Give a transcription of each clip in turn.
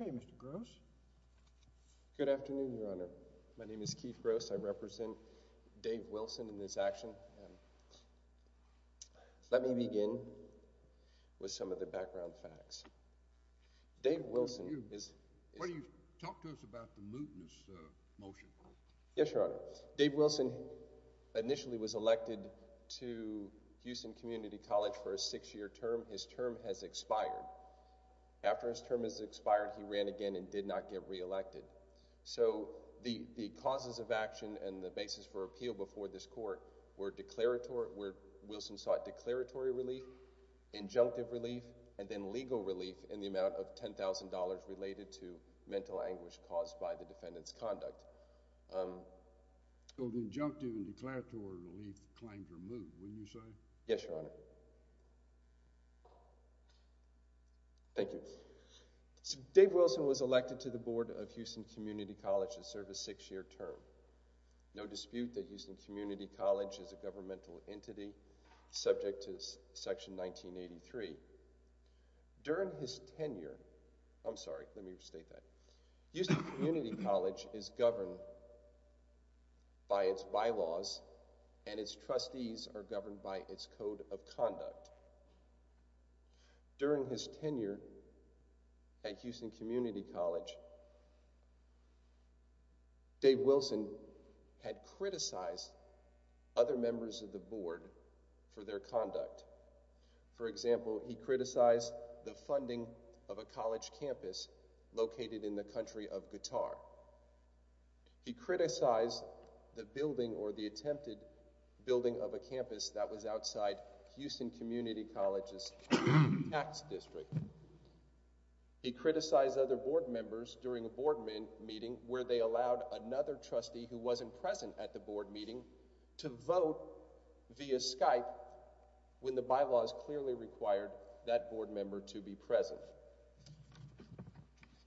Okay, Mr. Gross. Good afternoon, Your Honor. My name is Keith Gross. I represent Dave Wilson in this action. Let me begin with some of the background facts. Dave Wilson is... Talk to us about the mootness motion. Yes, Your Honor. Dave Wilson initially was elected to Houston Community College for a six-year term. His term has expired. After his term has expired, he ran again and did not get re-elected. So the causes of action and the basis for appeal before this court were declaratory, where Wilson sought declaratory relief, injunctive relief, and then legal relief in the amount of $10,000 related to mental anguish caused by the defendant's conduct. So the injunctive and declaratory relief claimed or moot, wouldn't you say? Yes, Your Honor. Thank you. Dave Wilson was elected to the board of Houston Community College to serve a six-year term. No dispute that Houston Community College is a governmental entity, subject to Section 1983. During his tenure, I'm sorry, let me restate that. Houston Community College is governed by its bylaws and its trustees are governed by its code of conduct. During his tenure at Houston Community College, Dave criticized other members of the board for their conduct. For example, he criticized the funding of a college campus located in the country of Qatar. He criticized the building or the attempted building of a campus that was outside Houston Community College's tax district. He criticized other board members during a board meeting where they allowed another trustee who wasn't present at the board meeting to vote via Skype when the bylaws clearly required that board member to be present.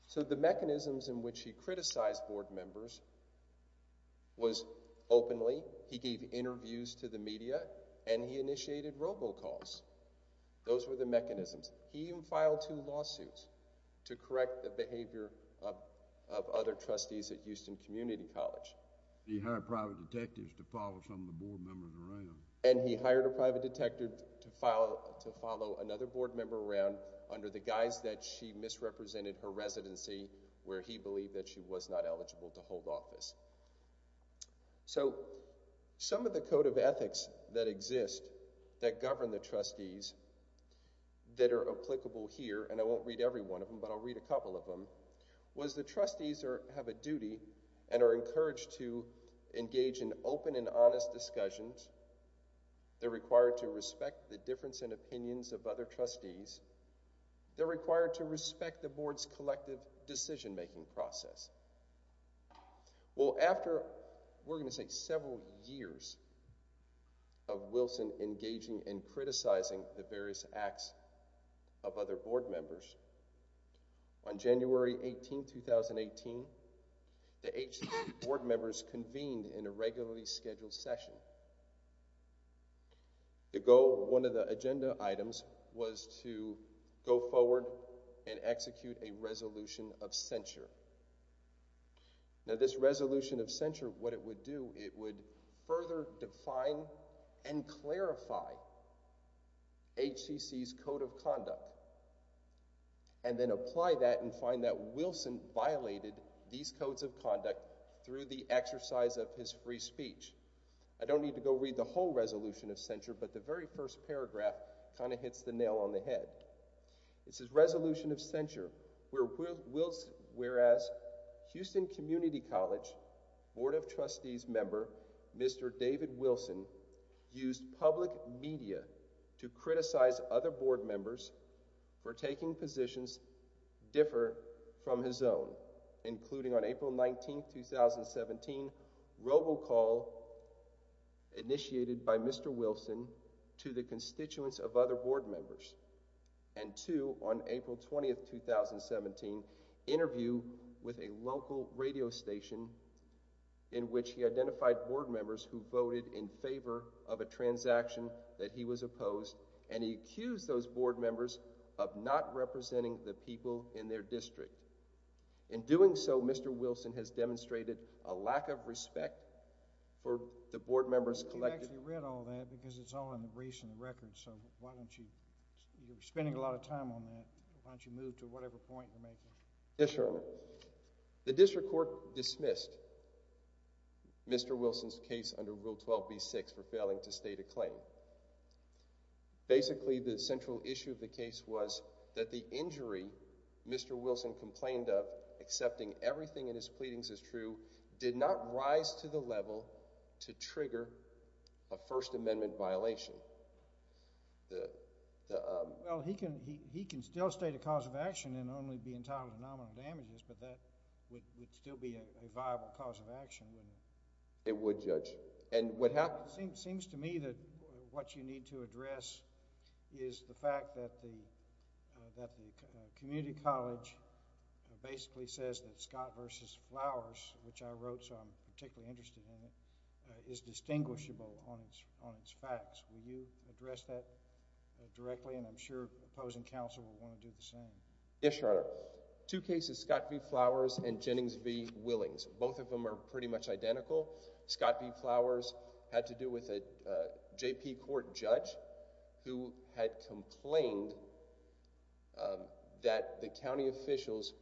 So the mechanisms in which he criticized board members was openly, he gave interviews to the media, and he initiated robocalls. Those were the mechanisms. He even filed two lawsuits to correct the behavior of other trustees at Houston Community College. He hired private detectives to follow some of the board members around. And he hired a private detective to follow another board member around under the guise that she misrepresented her residency where he believed that she was not eligible to hold office. So some of the code of ethics that exist that govern the trustees that are applicable here, and I won't read every one of them, but I'll read a couple of them, was the trustees have a duty and are encouraged to engage in open and honest discussions. They're required to respect the difference in opinions of other trustees. They're required to respect the board's collective decision-making process. Well, after, we're going to say several years of Wilson engaging and criticizing the various acts of other board members, on January 18, 2018, the HCC board members convened in a regularly scheduled session. The goal, one of the agenda items, was to go forward and execute a resolution of censure. Now this resolution of censure, what it would do, it would further define and clarify HCC's code of conduct, and then apply that and find that Wilson violated these codes of conduct through the exercise of his free speech. I don't need to go read the whole resolution of censure, but the very first paragraph kind of hits the nail on the head. This is resolution of censure, whereas Houston Community College Board of Trustees member, Mr. David Wilson, used public media to criticize other board members for taking positions differ from his own, including on April 19, 2017, robocall initiated by Mr. Wilson to the constituents of other board members, and two, on April 20, 2017, interview with a local radio station in which he identified board members who voted in favor of a transaction that he was opposed, and he accused those board members of not representing the people in their district. In doing so, Mr. Wilson has demonstrated a lack of respect for the board members... You actually read all that because it's all in the briefs and records, so why don't you... you're spending a lot of time on that. Why don't you move to whatever point you're making. Yes, Your Honor. The district court dismissed Mr. Wilson's case under Rule 12b-6 for failing to state a claim. Basically, the central issue of the case was that the injury Mr. Wilson complained of, accepting everything in his pleadings as true, did not rise to the level to trigger a First Amendment violation. The... Well, he can still state a cause of action and only be entitled to nominal damages, but that would still be a viable cause of action, wouldn't it? It would, Judge. And what happened... It seems to me that what you need to address is the fact that the community college basically says that Scott v. Flowers, which I wrote, so I'm particularly interested in it, is distinguishable on its facts. Will you address that directly? And I'm sure opposing counsel will want to do the same. Yes, Your Honor. Two cases, Scott v. Flowers and Jennings v. Willings, both of them are pretty much identical. Scott v. Flowers had to do with a J.P. Court judge who had complained that the county officials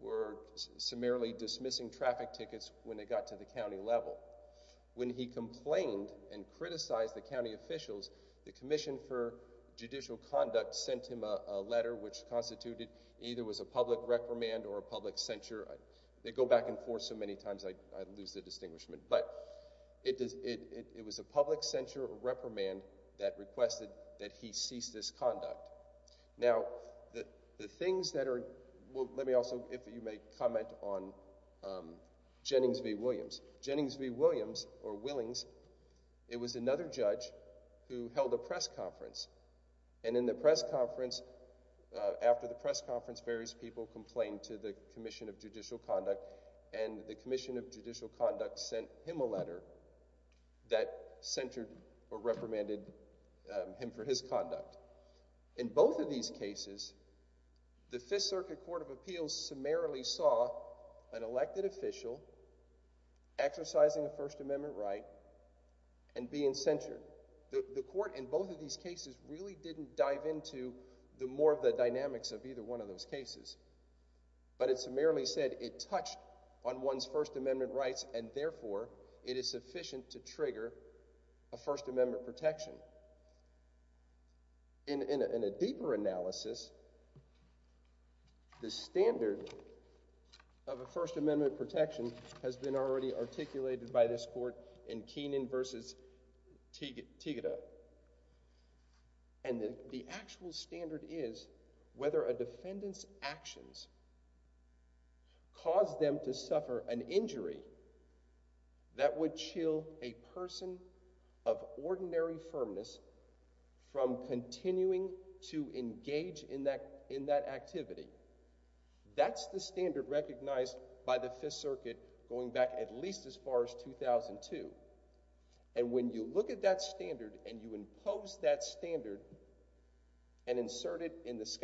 were summarily dismissing traffic tickets when they got to the county level. When he complained and criticized the county officials, the Commission for Judicial Conduct sent him a letter which constituted either was a public reprimand or a public censure. They go back and forth so many times I lose the distinguishment, but it was a public censure or reprimand that requested that he cease this conduct. Now, the things that are... Well, let me also, if you may, comment on Jennings v. Williams. Jennings v. Williams, or Willings, it was another judge who held a press conference, and in the press conference, after the press conference, various people complained to the Commission of Judicial Conduct, and the Commission of Judicial Conduct sent him a letter that censured or reprimanded him for his conduct. In both of these cases, the Fifth Circuit Court of Appeals summarily saw an elected official exercising a First Amendment right and being censured. The court in both of these cases really didn't dive into more of the dynamics of either one of those cases, but it summarily said it touched on one's First Amendment rights, and therefore, it is sufficient to trigger a First Amendment protection. In a deeper analysis, the standard of a First Amendment protection has been already articulated by this court in Keenan v. Tigeta, and the actual standard is whether a defendant's actions cause them to suffer an injury that would chill a person of ordinary firmness from continuing to engage in that activity. That's the standard recognized by the Fifth Circuit going back at least as far as 2002, and when you look at that standard and you impose that standard and insert it in the case,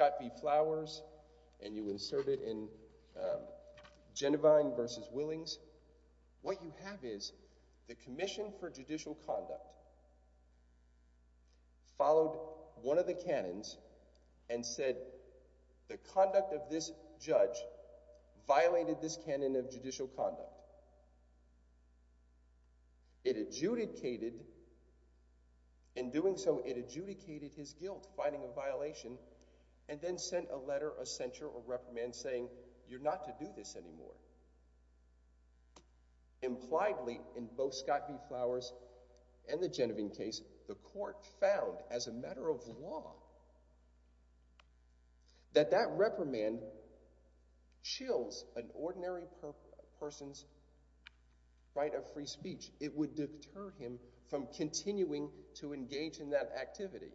the Commission for Judicial Conduct followed one of the canons and said the conduct of this judge violated this canon of judicial conduct. In doing so, it adjudicated his guilt finding a violation and then sent a letter of censure or reprimand saying, you're not allowed to do this anymore. Impliedly, in both Scott v. Flowers and the Genevieve case, the court found as a matter of law that that reprimand chills an ordinary person's right of free speech. It would deter him from continuing to engage in that activity,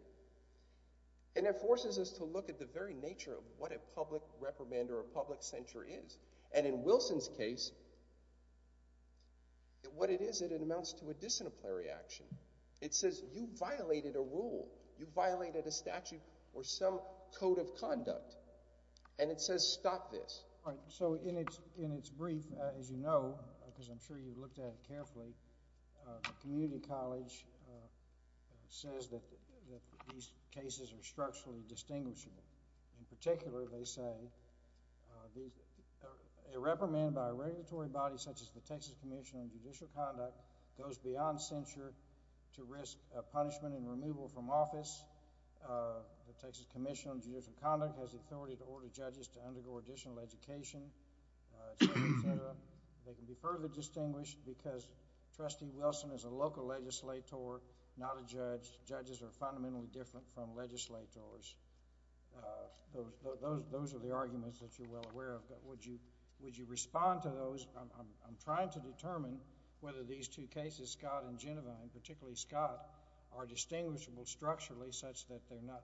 and it forces us to look at the very nature of what a public reprimand or a public censure is, and in Wilson's case, what it is, it amounts to a disciplinary action. It says you violated a rule. You violated a statute or some code of conduct, and it says stop this. So in its brief, as you know, because I'm sure you've looked at it carefully, the community college says that these cases are structurally distinguishable. In particular, they say a reprimand by a regulatory body such as the Texas Commission on Judicial Conduct goes beyond censure to risk punishment and removal from office. The Texas Commission on Judicial Conduct has the authority to order judges to undergo additional education, et cetera. They can be further distinguished because Trustee Wilson is a local legislator, not a judge. Judges are fundamentally different from legislators. Those are the arguments that you're well aware of, but would you respond to those? I'm trying to determine whether these two cases, Scott and Genevieve, and particularly Scott, are distinguishable structurally such that they're not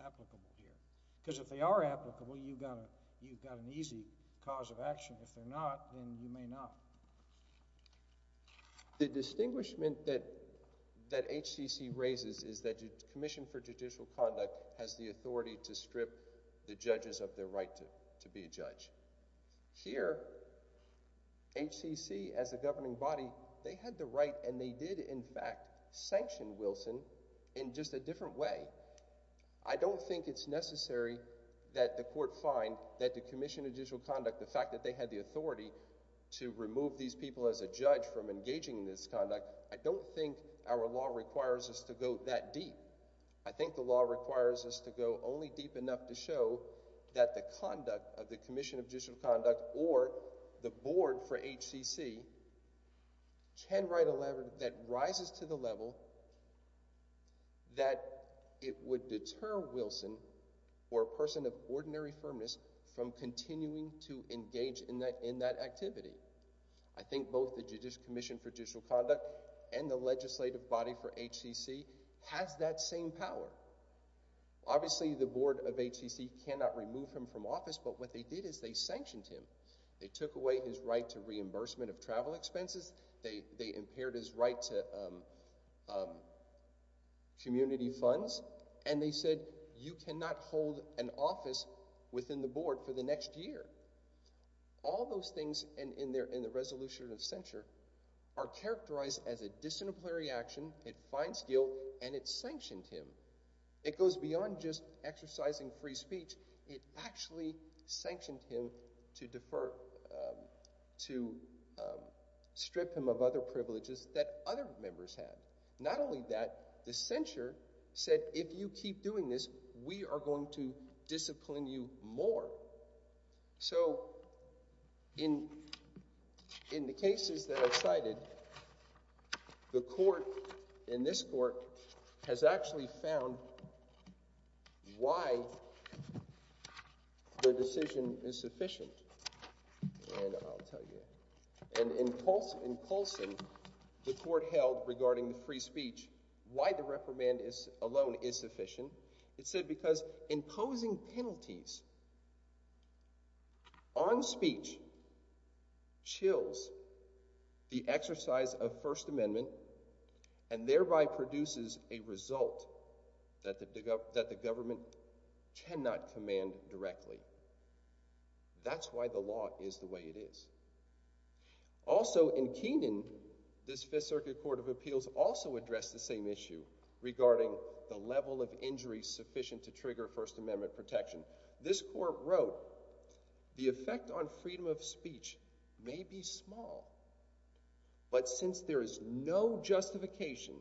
applicable here, because if they are applicable, you've got an easy cause of action. If they're not, then you may not. The distinguishment that HCC raises is that the Commission for Judicial Conduct has the authority to strip the judges of their right to be a judge. Here, HCC, as a governing body, they had the right, and they did, in fact, sanction Wilson in just a different way. I don't think it's necessary that the court find that the Commission of Judicial Conduct, the fact that they had the authority to remove these people as a judge from engaging in this conduct, I don't think our law requires us to go that deep. I think the law requires us to go only deep enough to show that the conduct of the Commission of Judicial Conduct or the board for HCC can write a letter that rises to the level that it would deter Wilson or a person of ordinary firmness from continuing to engage in that activity. I think both the Judicial Commission for Judicial Conduct and the legislative body for HCC has that same power. Obviously, the board of HCC cannot remove him from office, but what they did is they sanctioned him. They took away his right to reimbursement of travel expenses, they impaired his right to community funds, and they said, you cannot hold an office within the board for the next year. All those things in the resolution of censure are characterized as a disciplinary action, it finds guilt, and it sanctioned him. It goes beyond just asking him to defer, to strip him of other privileges that other members have. Not only that, the censure said, if you keep doing this, we are going to discipline you more. So in the cases that I've cited, the court in this court has actually found why the decision is sufficient, and I'll tell you. And in Colson, the court held regarding the free speech, why the reprimand alone is sufficient. It said because imposing penalties on speech chills the exercise of First Amendment and thereby produces a result that the government cannot command directly. That's why the law is the way it is. Also in Keenan, this Fifth Circuit Court of Appeals also addressed the same issue regarding the level of injury sufficient to trigger First Amendment protection. This court wrote, the effect on freedom of speech may be small, but since there is no justification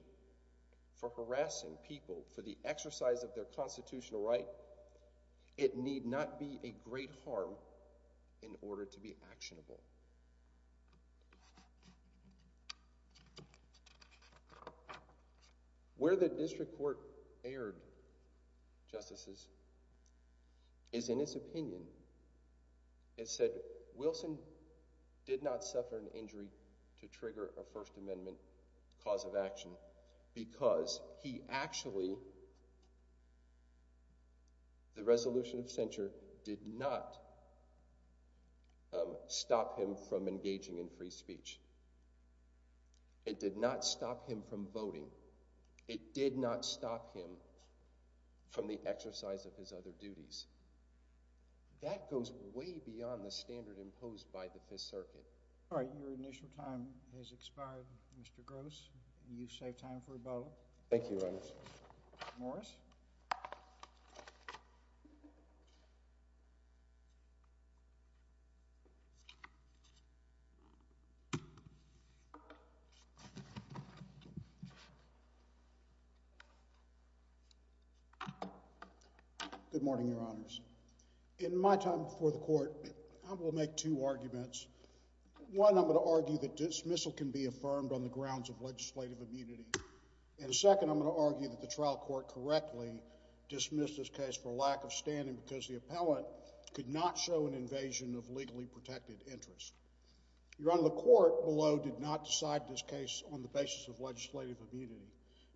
for harassing people for the exercise of their constitutional right, it need not be a great harm in order to be actionable. Where the district court erred, Justices, is in its opinion. It said Wilson did not suffer an injury to trigger a First Amendment cause of action because he actually did not do it. The resolution of censure did not stop him from engaging in free speech. It did not stop him from voting. It did not stop him from the exercise of his other duties. That goes way beyond the standard imposed by the Fifth Circuit. All right. Your initial time has expired, Mr. Gross. You've saved time for a vote. Good morning, Your Honors. In my time before the court, I will make two arguments. One, I'm going to argue that dismissal can be affirmed on the grounds of legislative immunity. And second, I'm going to argue that the trial court correctly dismissed this case for lack of standing because the appellant could not show an invasion of legally protected interest. Your Honor, the court below did not decide this case on the basis of legislative immunity,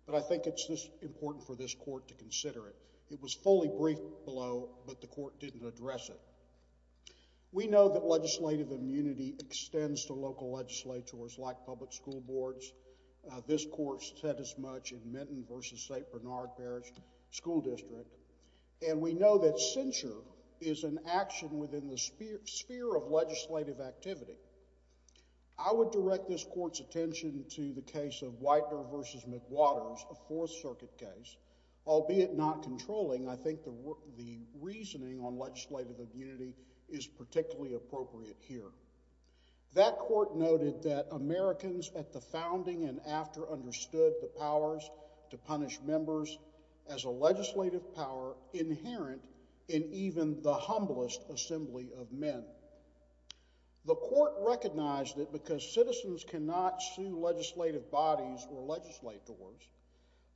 but I think it's important for this court to consider it. It was fully briefed below, but the court didn't address it. We know that legislative immunity extends to local legislators like public school boards. This court said as much in Minton v. St. Bernard Parish School District. And we know that censure is an action within the sphere of legislative activity. I would direct this court's attention to the case of Whitener v. McWaters, a Fourth Circuit case. Albeit not controlling, I think the reasoning on legislative immunity is particularly appropriate here. That court noted that Americans at the founding and after understood the powers to punish members as a legislative power inherent in even the humblest assembly of men. The court recognized that because citizens cannot sue legislative bodies or legislators,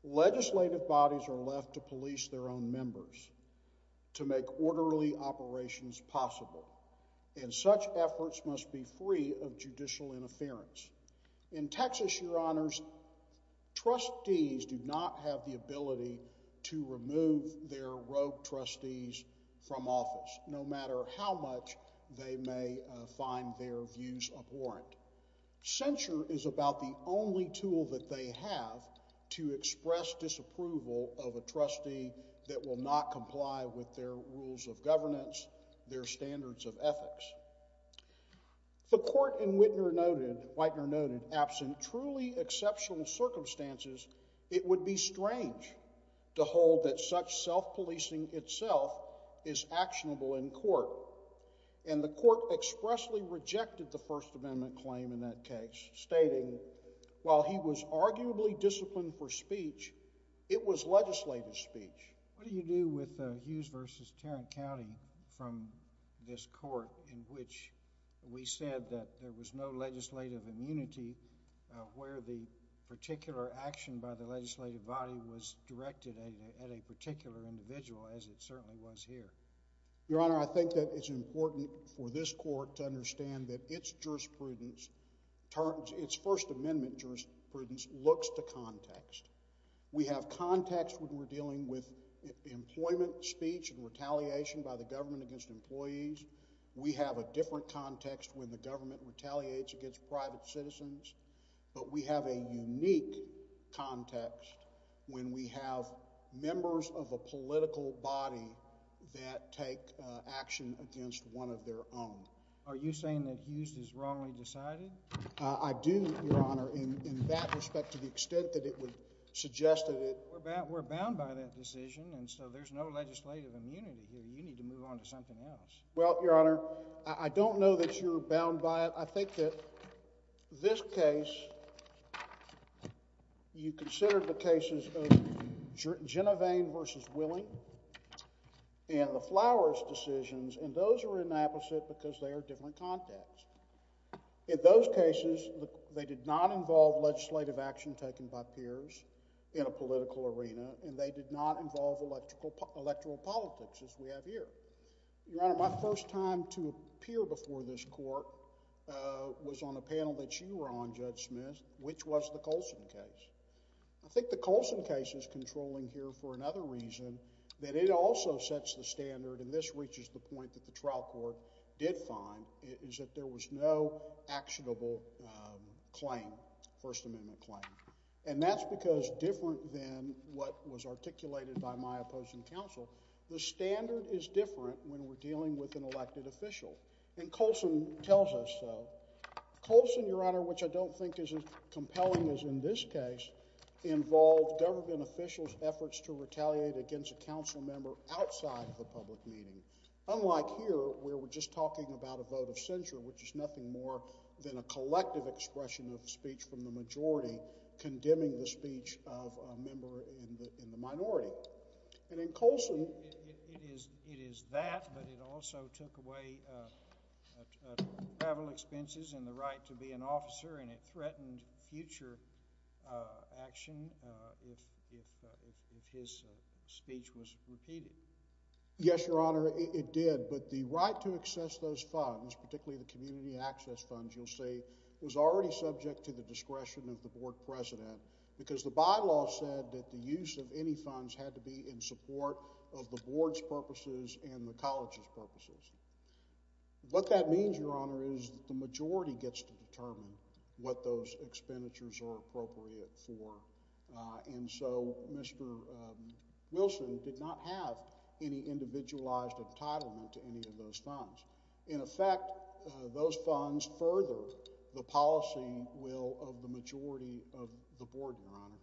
legislative bodies are left to police their own members to make orderly operations possible. And such efforts must be free of judicial interference. In Texas, Your Honors, trustees do not have the ability to remove their rogue trustees from office, no matter how much they may find their views abhorrent. Censure is about the only tool that they have to express disapproval of a trustee that will not comply with their rules of governance, their standards of ethics. The court in Whitener noted, absent truly exceptional circumstances, it would be strange to hold that such self-policing itself is actionable in court. And the court expressly rejected the First Amendment claim in that case, stating, while he was arguably disciplined for speech, it was legislative speech. What do you do with Hughes v. Tarrant County from this court in which we said that there was no legislative immunity where the particular action by the legislative body was directed at a particular individual, as it certainly was here? Your Honor, I think that it's important for this court to understand that its jurisprudence, its First Amendment jurisprudence, looks to context. We have context when we're dealing with employment speech and retaliation by the government against employees. We have a different context when the government retaliates against private citizens. But we have a unique context when we have members of a political body that take action against one of their own. Are you saying that Hughes is wrongly decided? I do, Your Honor, in that respect to the extent that it would suggest that it... We're bound by that decision, and so there's no legislative immunity here. You need to move on to something else. Well, Your Honor, I don't know that you're bound by it. I think that this case, you considered the cases of the Court of Appeals because they are different contexts. In those cases, they did not involve legislative action taken by peers in a political arena, and they did not involve electoral politics, as we have here. Your Honor, my first time to appear before this court was on a panel that you were on, Judge Smith, which was the Coulson case. I think the Coulson case is controlling here for another reason, that it also sets the standard, and this reaches the point that the trial court did find, is that there was no actionable claim, First Amendment claim. And that's because different than what was articulated by my opposing counsel, the standard is different when we're dealing with an elected official, and Coulson tells us so. Coulson, Your Honor, which I don't think is as compelling as in this case, involved government officials' efforts to retaliate against a council member outside of the public meeting. Unlike here, where we're just talking about a vote of censure, which is nothing more than a collective expression of speech from the majority condemning the speech of a member in the minority. And in Coulson— It is that, but it also took away travel expenses and the right to be an officer, and it threatened future action if his speech was repeated. Yes, Your Honor, it did, but the right to access those funds, particularly the community access funds, you'll see, was already subject to the discretion of the board president, because the bylaw said that the use of any funds had to be in support of the board's purposes. What that means, Your Honor, is the majority gets to determine what those expenditures are appropriate for, and so Mr. Wilson did not have any individualized entitlement to any of those funds. In effect, those funds further the policy will of the majority of the board, Your Honor.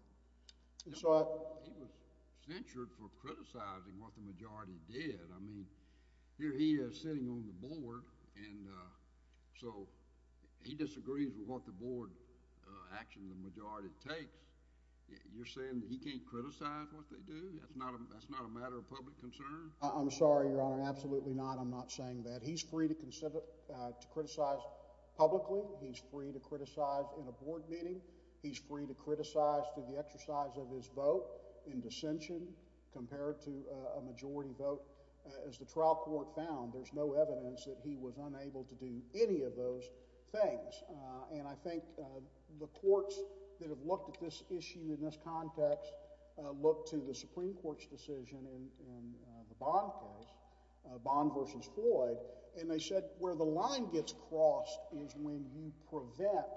He was censured for criticizing what the majority did. I mean, here he is sitting on the board, and so he disagrees with what the board action the majority takes. You're saying that he can't criticize what they do? That's not a matter of public concern? I'm sorry, Your Honor, absolutely not. I'm not saying that. He's free to criticize publicly. He's free to criticize in a board meeting. He's free to criticize through the media. There's no evidence that he was unable to do any of those things, and I think the courts that have looked at this issue in this context look to the Supreme Court's decision in the Bond case, Bond v. Floyd, and they said where the line gets crossed is when you prevent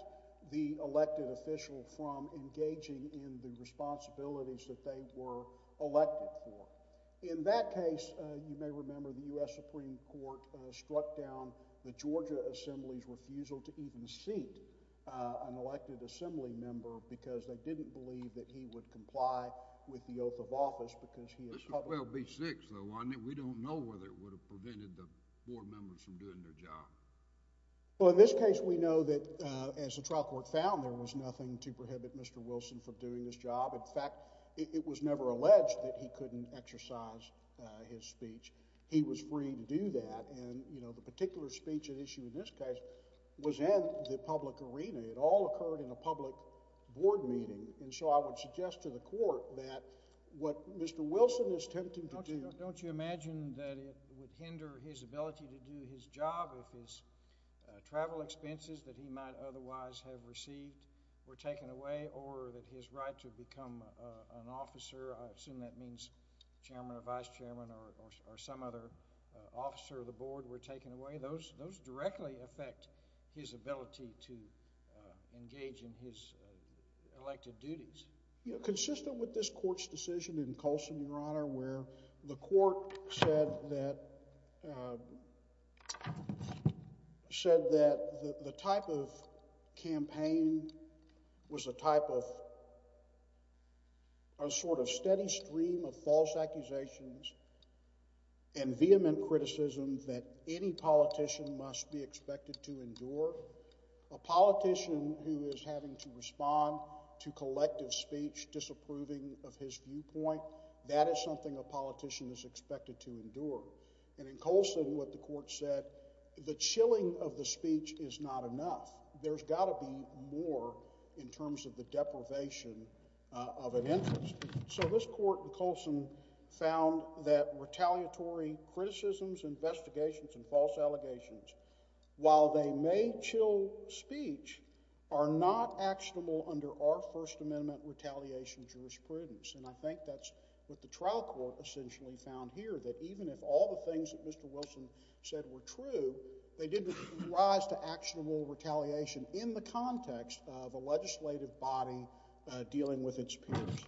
the elected official from engaging in the responsibilities that they were elected for. In that case, you may remember the U.S. Supreme Court struck down the Georgia Assembly's refusal to even seat an elected Assembly member because they didn't believe that he would comply with the oath of office because he was public. This would well be six, though, wouldn't it? We don't know whether it would have prevented the board members from doing their job. Well, in this case, we know that, as the trial court found, there was nothing to prohibit him from doing so, and since the court found that he couldn't exercise his speech, he was free to do that, and, you know, the particular speech at issue in this case was in the public arena. It all occurred in a public board meeting, and so I would suggest to the court that what Mr. Wilson is attempting to do... But don't you imagine that it would hinder his ability to do his job if his travel expenses that he might otherwise have received were taken away or that his right to become an chairman or vice chairman or some other officer of the board were taken away? Those directly affect his ability to engage in his elected duties. You know, consistent with this court's decision in Colson, Your Honor, where the court said that the type of campaign was a type of a sort of steady stream of false accusations and vehement criticism that any politician must be expected to endure. A politician who is having to respond to collective speech disapproving of his viewpoint, that is something a politician is expected to endure. And in Colson, what the court said, the chilling of the speech is not enough. There's got to be more in terms of the deprivation of an interest. So this court in Colson found that retaliatory criticisms, investigations, and false allegations, while they may chill speech, are not actionable under our First Amendment retaliation jurisprudence. And I think that's what the trial court essentially found here, that even if all the things that Mr. Wilson said were true, they didn't rise to actionable retaliation in the context of a legislative body dealing with its peers.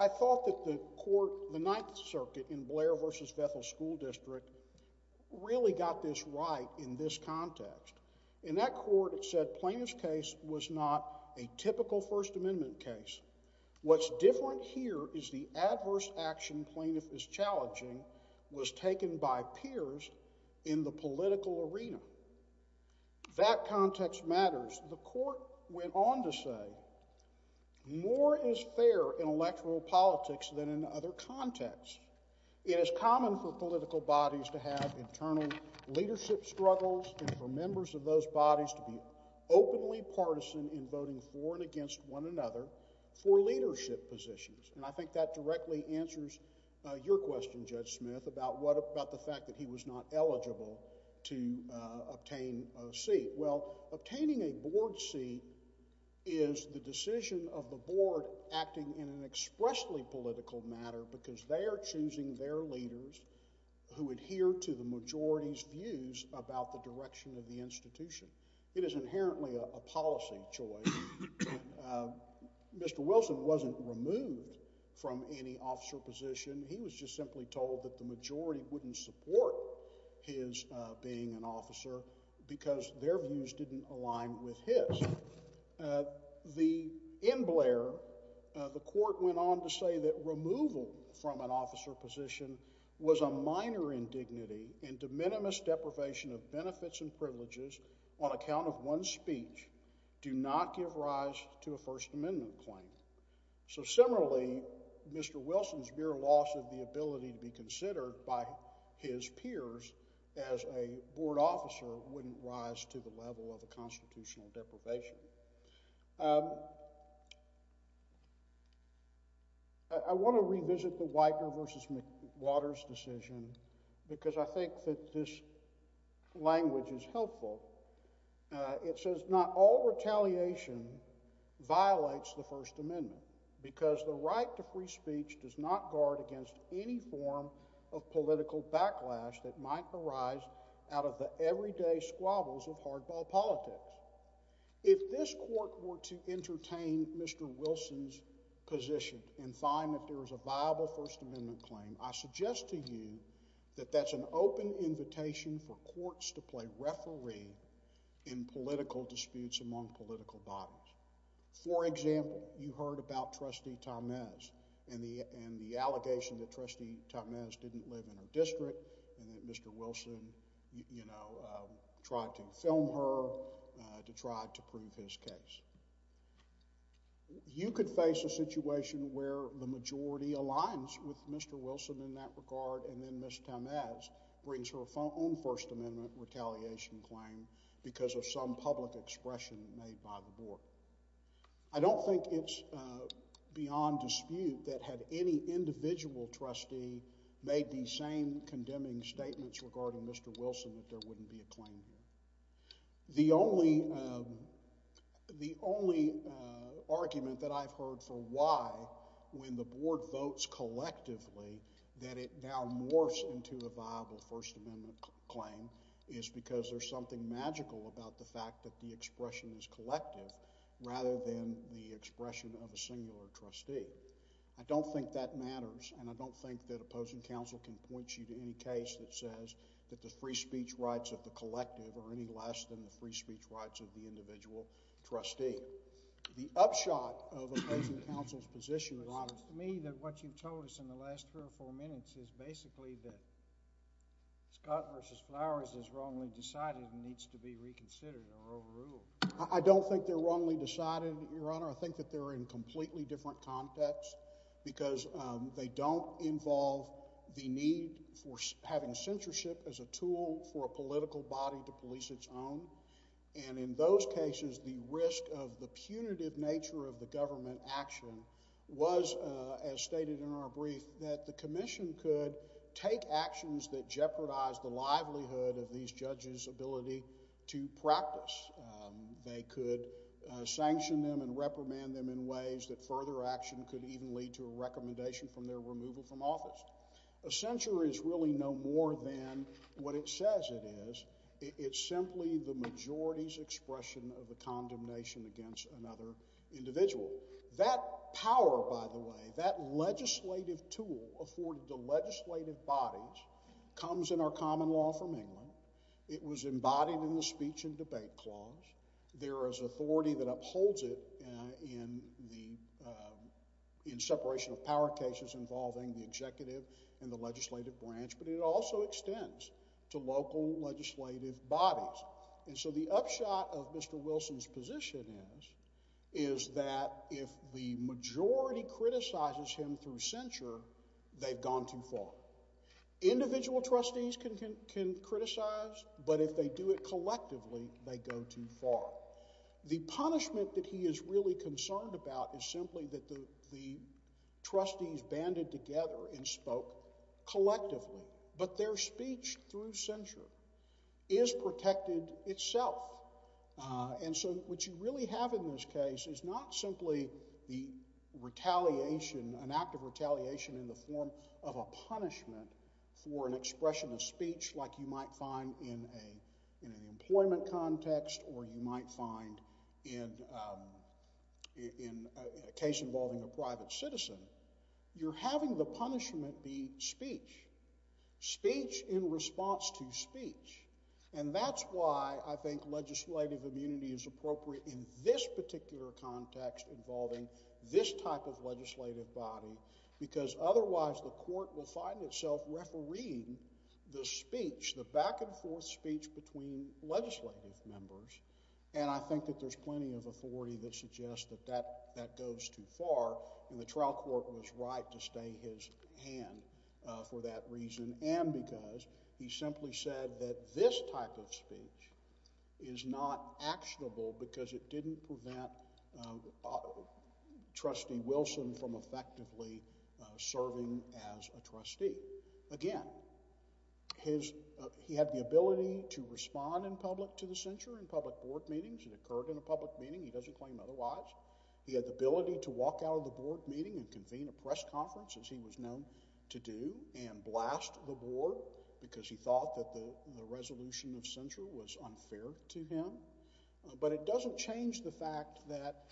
I thought that the court, the Ninth Circuit in Blair v. Bethel School District, really got this right in this context. In that court, it said Plaintiff's case was not a typical First Amendment case. What's different here is the adverse action Plaintiff is challenging was taken by peers in the political arena. That context matters. The court went on to say more is fair in electoral politics than in other contexts. It is common for political bodies to have internal leadership struggles and for members of those bodies to be openly partisan in voting for and against one another for leadership positions. And I think that directly answers your question, Judge Smith, about what about the fact that he was not eligible to obtain a seat. Well, obtaining a board seat is the decision of the board acting in an expressly political manner because they are choosing their leaders who adhere to the majority's views about the direction of the institution. It is inherently a policy choice. Mr. Wilson wasn't removed from any officer position. He was just simply told that the majority wouldn't support his being an officer because their views didn't align with his. In Blair, the court went on to say that removal from an officer position was a minor indignity and de minimis deprivation of benefits and privileges on account of one's speech do not give rise to a First Amendment claim. So similarly, Mr. Wilson's mere loss of the ability to be considered by his peers as a board officer wouldn't rise to the level of a constitutional deprivation. I want to revisit the Widener v. McWater's decision because I think that this language is helpful. It says not all retaliation violates the First Amendment because the right to free speech does not guard against any form of political politics. If this court were to entertain Mr. Wilson's position and find that there is a viable First Amendment claim, I suggest to you that that's an open invitation for courts to play referee in political disputes among political bodies. For example, you heard about Trustee Tormez and the allegation that Trustee Tormez didn't live in her district and that Mr. Wilson, you know, tried to film her to try to prove his case. You could face a situation where the majority aligns with Mr. Wilson in that regard and then Ms. Tormez brings her own First Amendment retaliation claim because of some public expression made by the board. I don't think it's beyond dispute that had any individual trustee made the same condemning statements regarding Mr. Wilson that there wouldn't be a claim here. The only argument that I've heard for why, when the board votes collectively, that it now morphs into a viable First Amendment claim is because there's something magical about the fact that the expression is collective rather than the expression of a singular trustee. I don't think that matters and I don't think that opposing counsel can point you to any case that says that the free speech rights of the collective are any less than the free speech rights of the individual trustee. The upshot of opposing counsel's position, Your Honor— It seems to me that what you've told us in the last three or four minutes is basically that Scott v. Flowers is wrongly decided and needs to be reconsidered or overruled. I don't think they're wrongly decided, Your Honor. I think that they're in completely different contexts because they don't involve the need for having censorship as a tool for a political body to police its own. And in those cases, the risk of the punitive nature of the government action was, as stated in our brief, that the commission could take actions that jeopardize the livelihood of these judges' ability to practice. They could sanction them and reprimand them in ways that further action could even lead to a recommendation from their removal from office. A censure is really no more than what it says it is. It's simply the majority's expression of a condemnation against another individual. That power, by the way, that legislative tool afforded to legislative bodies comes in our common law from England. It was embodied in the Speech and Debate Clause. There is authority that upholds it in separation of power cases involving the executive and the legislative branch, but it also extends to local legislative bodies. And so the upshot of Mr. Wilson's position is that if the majority criticizes him through censure, they've gone too far. Individual trustees can criticize, but if they do it collectively, they go too far. The punishment that he is really concerned about is simply that the trustees banded together and spoke collectively, but their speech through censure is protected itself. And so what you really have in this case is not simply the retaliation, an act of retaliation in the form of a punishment for an expression of speech like you might find in an employment context or you might find in a case involving a private citizen. You're having the punishment be speech, speech in response to speech. And that's why I think legislative immunity is appropriate in this particular context involving this type of legislative body, because otherwise the court will find itself refereeing the speech, the back-and-forth speech between legislative members, and I think that there's plenty of authority that suggests that that goes too far, and the trial court was right to stay his hand for that reason, and because he simply said that this type of speech is not actionable because it didn't prevent Trustee Wilson from effectively serving as a trustee. Again, he had the ability to respond in public to the censure in public board meetings. It occurred in a public meeting. He doesn't claim otherwise. He had the ability to walk out of the board meeting and convene a press conference, as he was known to do, and blast the board because he thought that the resolution of censure was unfair to him, but it doesn't change the fact that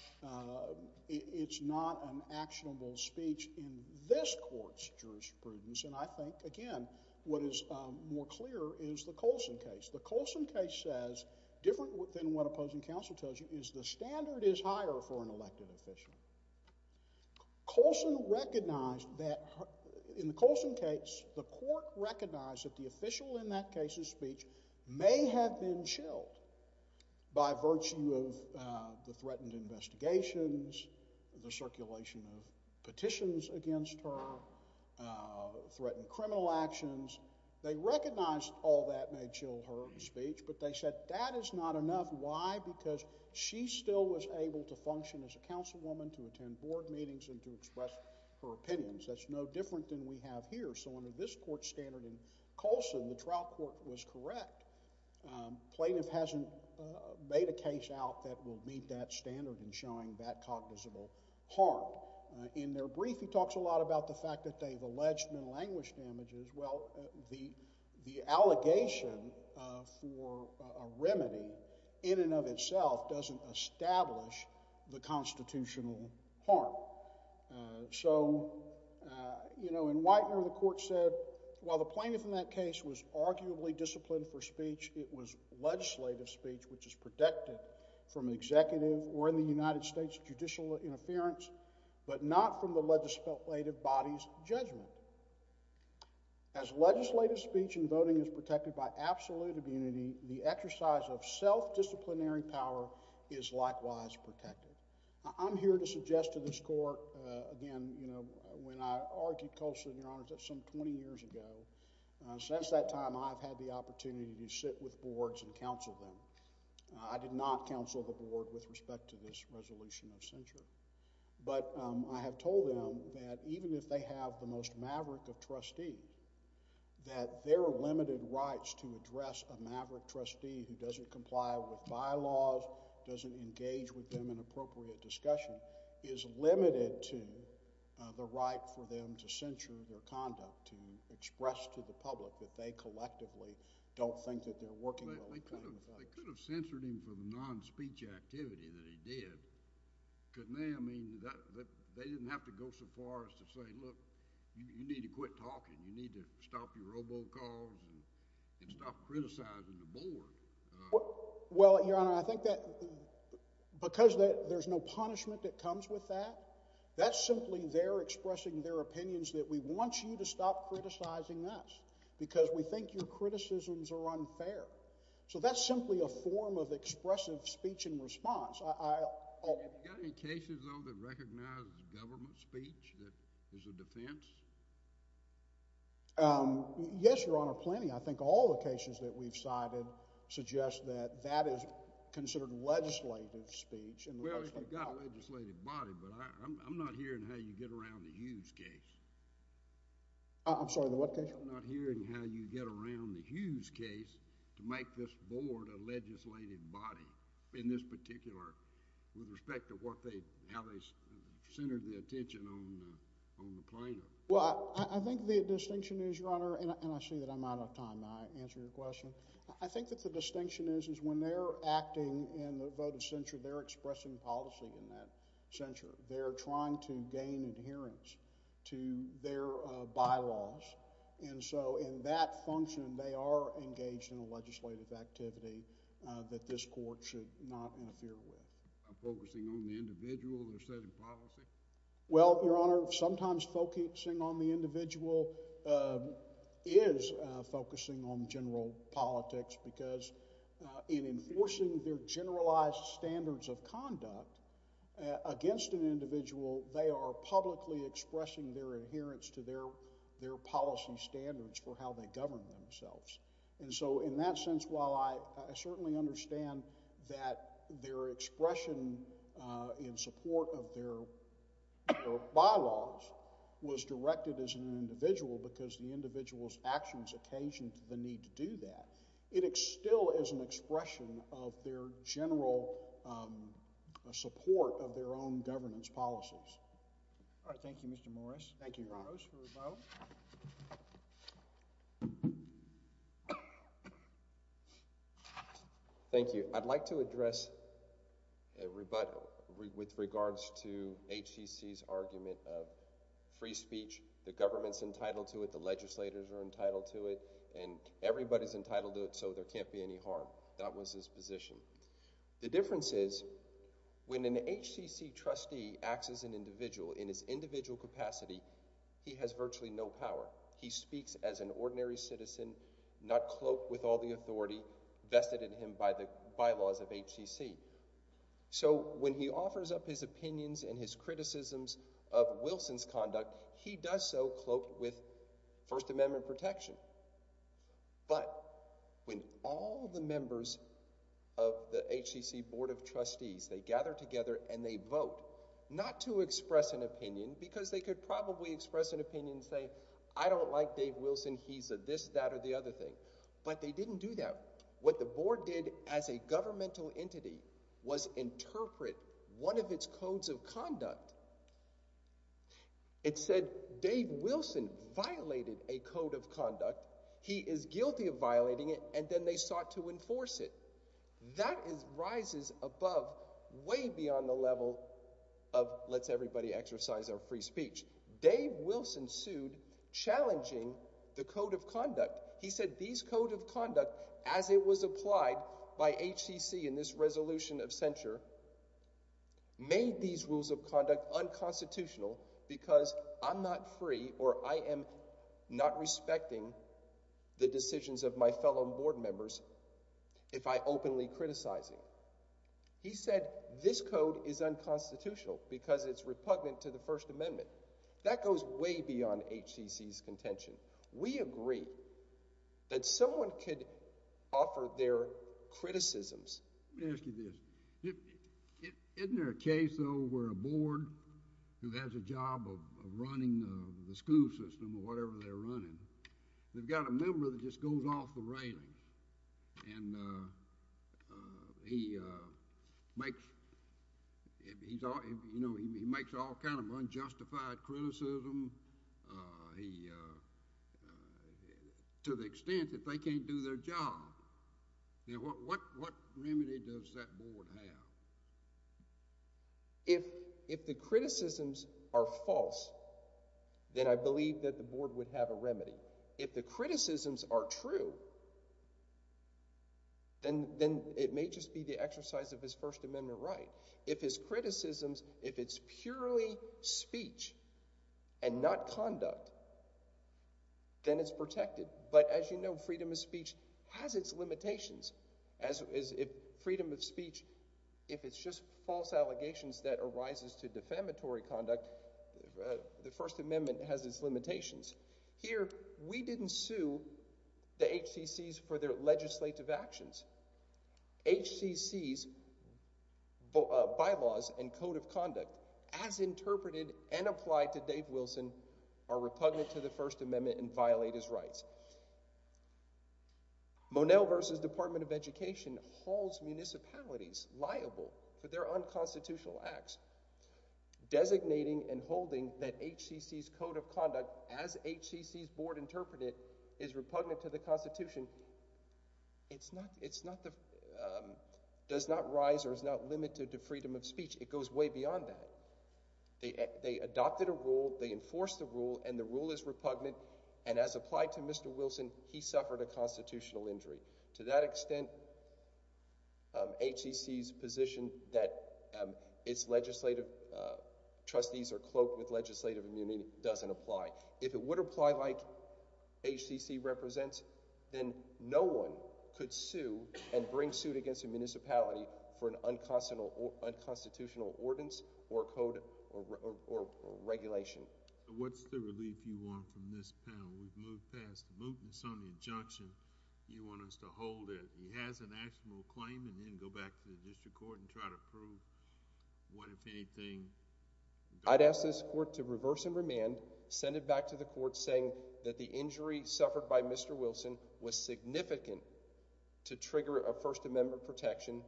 it's not an actionable speech in this court's jurisprudence, and I think, again, what is more clear is the Colson case. The Colson case says, different than what opposing counsel tells you, is the standard is higher for an elected official. Colson recognized that in the Colson case, the court recognized that the official in that case's speech may have been chilled by virtue of the threatened investigations, the circulation of petitions against her, threatened criminal actions. They recognized all that may chill her speech, but they said that is not enough. Why? Because she still was able to function as a counselwoman, to attend board meetings. This court's standard in Colson, the trial court was correct. Plaintiff hasn't made a case out that will meet that standard in showing that cognizable harm. In their brief, he talks a lot about the fact that they've alleged mental anguish damages. Well, the allegation for a remedy, in and of itself, doesn't establish the constitutional harm. So, you know, in Whitener, the court said, while the plaintiff in that case was arguably disciplined for speech, it was legislative speech, which is protected from executive or, in the United States, judicial interference, but not from the legislative body's judgment. As legislative speech in voting is protected by absolute immunity, the exercise of self-disciplinary power is likewise protected. I'm here to suggest to this court, again, you know, when I argued Colson, Your Honor, just some 20 years ago, since that time, I've had the opportunity to sit with boards and counsel them. I did not counsel the board with respect to this resolution of censure, but I have told them that even if they have the most maverick of trustee, that their limited rights to address a maverick trustee who doesn't comply with bylaws, doesn't engage with them in appropriate discussion, is limited to the right for them to censure their conduct, to express to the public that they collectively don't think that they're working well with them. They could have censured him for the non-speech activity that he did, couldn't they? I mean, they didn't have to go so far as to say, look, you need to quit talking. You need to stop your robocalls and stop criticizing the board. Well, Your Honor, I think that because there's no punishment that comes with that, that's simply they're expressing their opinions that we want you to stop criticizing us, because we think your criticisms are unfair. So that's simply a form of expressive speech and response. Have you got any cases, though, that recognize government speech that is a defense? Yes, Your Honor, plenty. I think all the cases that we've cited suggest that that is considered legislative speech. Well, you've got a legislative body, but I'm not hearing how you get around the Hughes case. I'm sorry, the what case? I'm not hearing how you get around the Hughes case to make this board a legislative body in this particular, with respect to how they centered the attention on the plaintiff. Well, I think the distinction is, Your Honor, and I see that I'm out of time. May I answer your question? I think that the distinction is, is when they're acting in the vote of censure, they're expressing policy in that censure. They're trying to gain adherence to their bylaws. And so in that function, they are engaged in a legislative activity that this court should not interfere with. By focusing on the individual, they're setting policy? Well, Your Honor, sometimes focusing on the individual is focusing on general politics because in enforcing their generalized standards of conduct against an individual, they are publicly expressing their adherence to their policy standards for how they govern themselves. And so in that sense, while I certainly understand that their expression in support of their bylaws was directed as an individual because the individual's actions occasioned the need to do that, it still is an expression of their general support of their own governance policies. All right. Thank you, Mr. Morris. Thank you, Your Honor. Rose for the vote. Thank you. I'd like to address with regards to HCC's argument of free speech, the government's entitled to it, the legislators are entitled to it, and everybody's entitled to it so there can't be any harm. That was his position. The difference is, when an HCC trustee acts as an individual in his individual capacity, he has virtually no power. He speaks as an ordinary citizen, not cloaked with all the authority vested in him by the bylaws of HCC. So when he offers up his opinions and his criticisms of Wilson's conduct, he does so cloaked with First Amendment protection. But when all the members of the HCC Board of Trustees, they gather together and they could probably express an opinion and say, I don't like Dave Wilson, he's a this, that, or the other thing. But they didn't do that. What the Board did as a governmental entity was interpret one of its codes of conduct. It said, Dave Wilson violated a code of conduct, he is guilty of violating it, and then they sought to enforce it. That rises above, way beyond the level of let's everybody exercise our free speech. Dave Wilson sued challenging the code of conduct. He said these codes of conduct, as it was applied by HCC in this resolution of censure, made these rules of conduct unconstitutional because I'm not free or I am not respecting the decisions of my fellow board members if I openly criticize him. He said this code is unconstitutional because it's repugnant to the First Amendment. That goes way beyond HCC's contention. We agree that someone could offer their criticisms. Let me ask you this. Isn't there a case, though, where a board who has a job of running the school system or whatever they're running, they've got a member that just goes off the railings, and he makes all kind of unjustified criticism to the extent that they can't do their job. What remedy does that board have? If the criticisms are false, then I believe that the board would have a remedy. If the criticisms are true, then it may just be the exercise of his First Amendment right. If his criticisms, if it's purely speech and not conduct, then it's protected. But as you know, freedom of speech has its limitations. Freedom of speech, if it's just false allegations that arises to defamatory conduct, the First Amendment has its limitations. Here, we didn't sue the HCC's for their legislative actions. HCC's bylaws and code of conduct, as interpreted and applied to Dave Wilson, are repugnant to the First Amendment and violate his rights. Monell v. Department of Education hauls municipalities liable for their unconstitutional acts, designating and holding that HCC's code of conduct, as HCC's board interpreted, is repugnant to the Constitution. It does not rise or is not limited to freedom of speech. It goes way beyond that. They adopted a rule, they enforced a rule, and the rule is repugnant, and as applied to Mr. Wilson, he suffered a constitutional injury. To that extent, HCC's position that its legislative trustees are cloaked with legislative immunity doesn't apply. If it would apply like HCC represents, then no one could sue and bring suit against a municipality for an unconstitutional ordinance or code or regulation. What's the relief you want from this panel? We've moved past the mootness on the injunction. You want us to hold it. He has an actual claim and then go back to the district court and try to prove what, if anything— I'd ask this court to reverse and remand, send it back to the court saying that the injury suffered by Mr. Wilson was significant to trigger a First Amendment protection,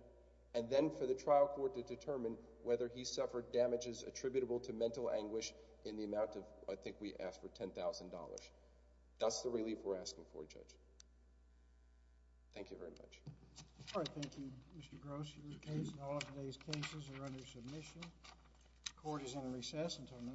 and then for the trial court to determine whether he suffered damages attributable to mental anguish in the amount of—I think we asked for $10,000. That's the relief we're asking for, Judge. Thank you very much. All right, thank you, Mr. Gross. Your case and all of today's cases are under submission. Court is in recess until 9 p.m.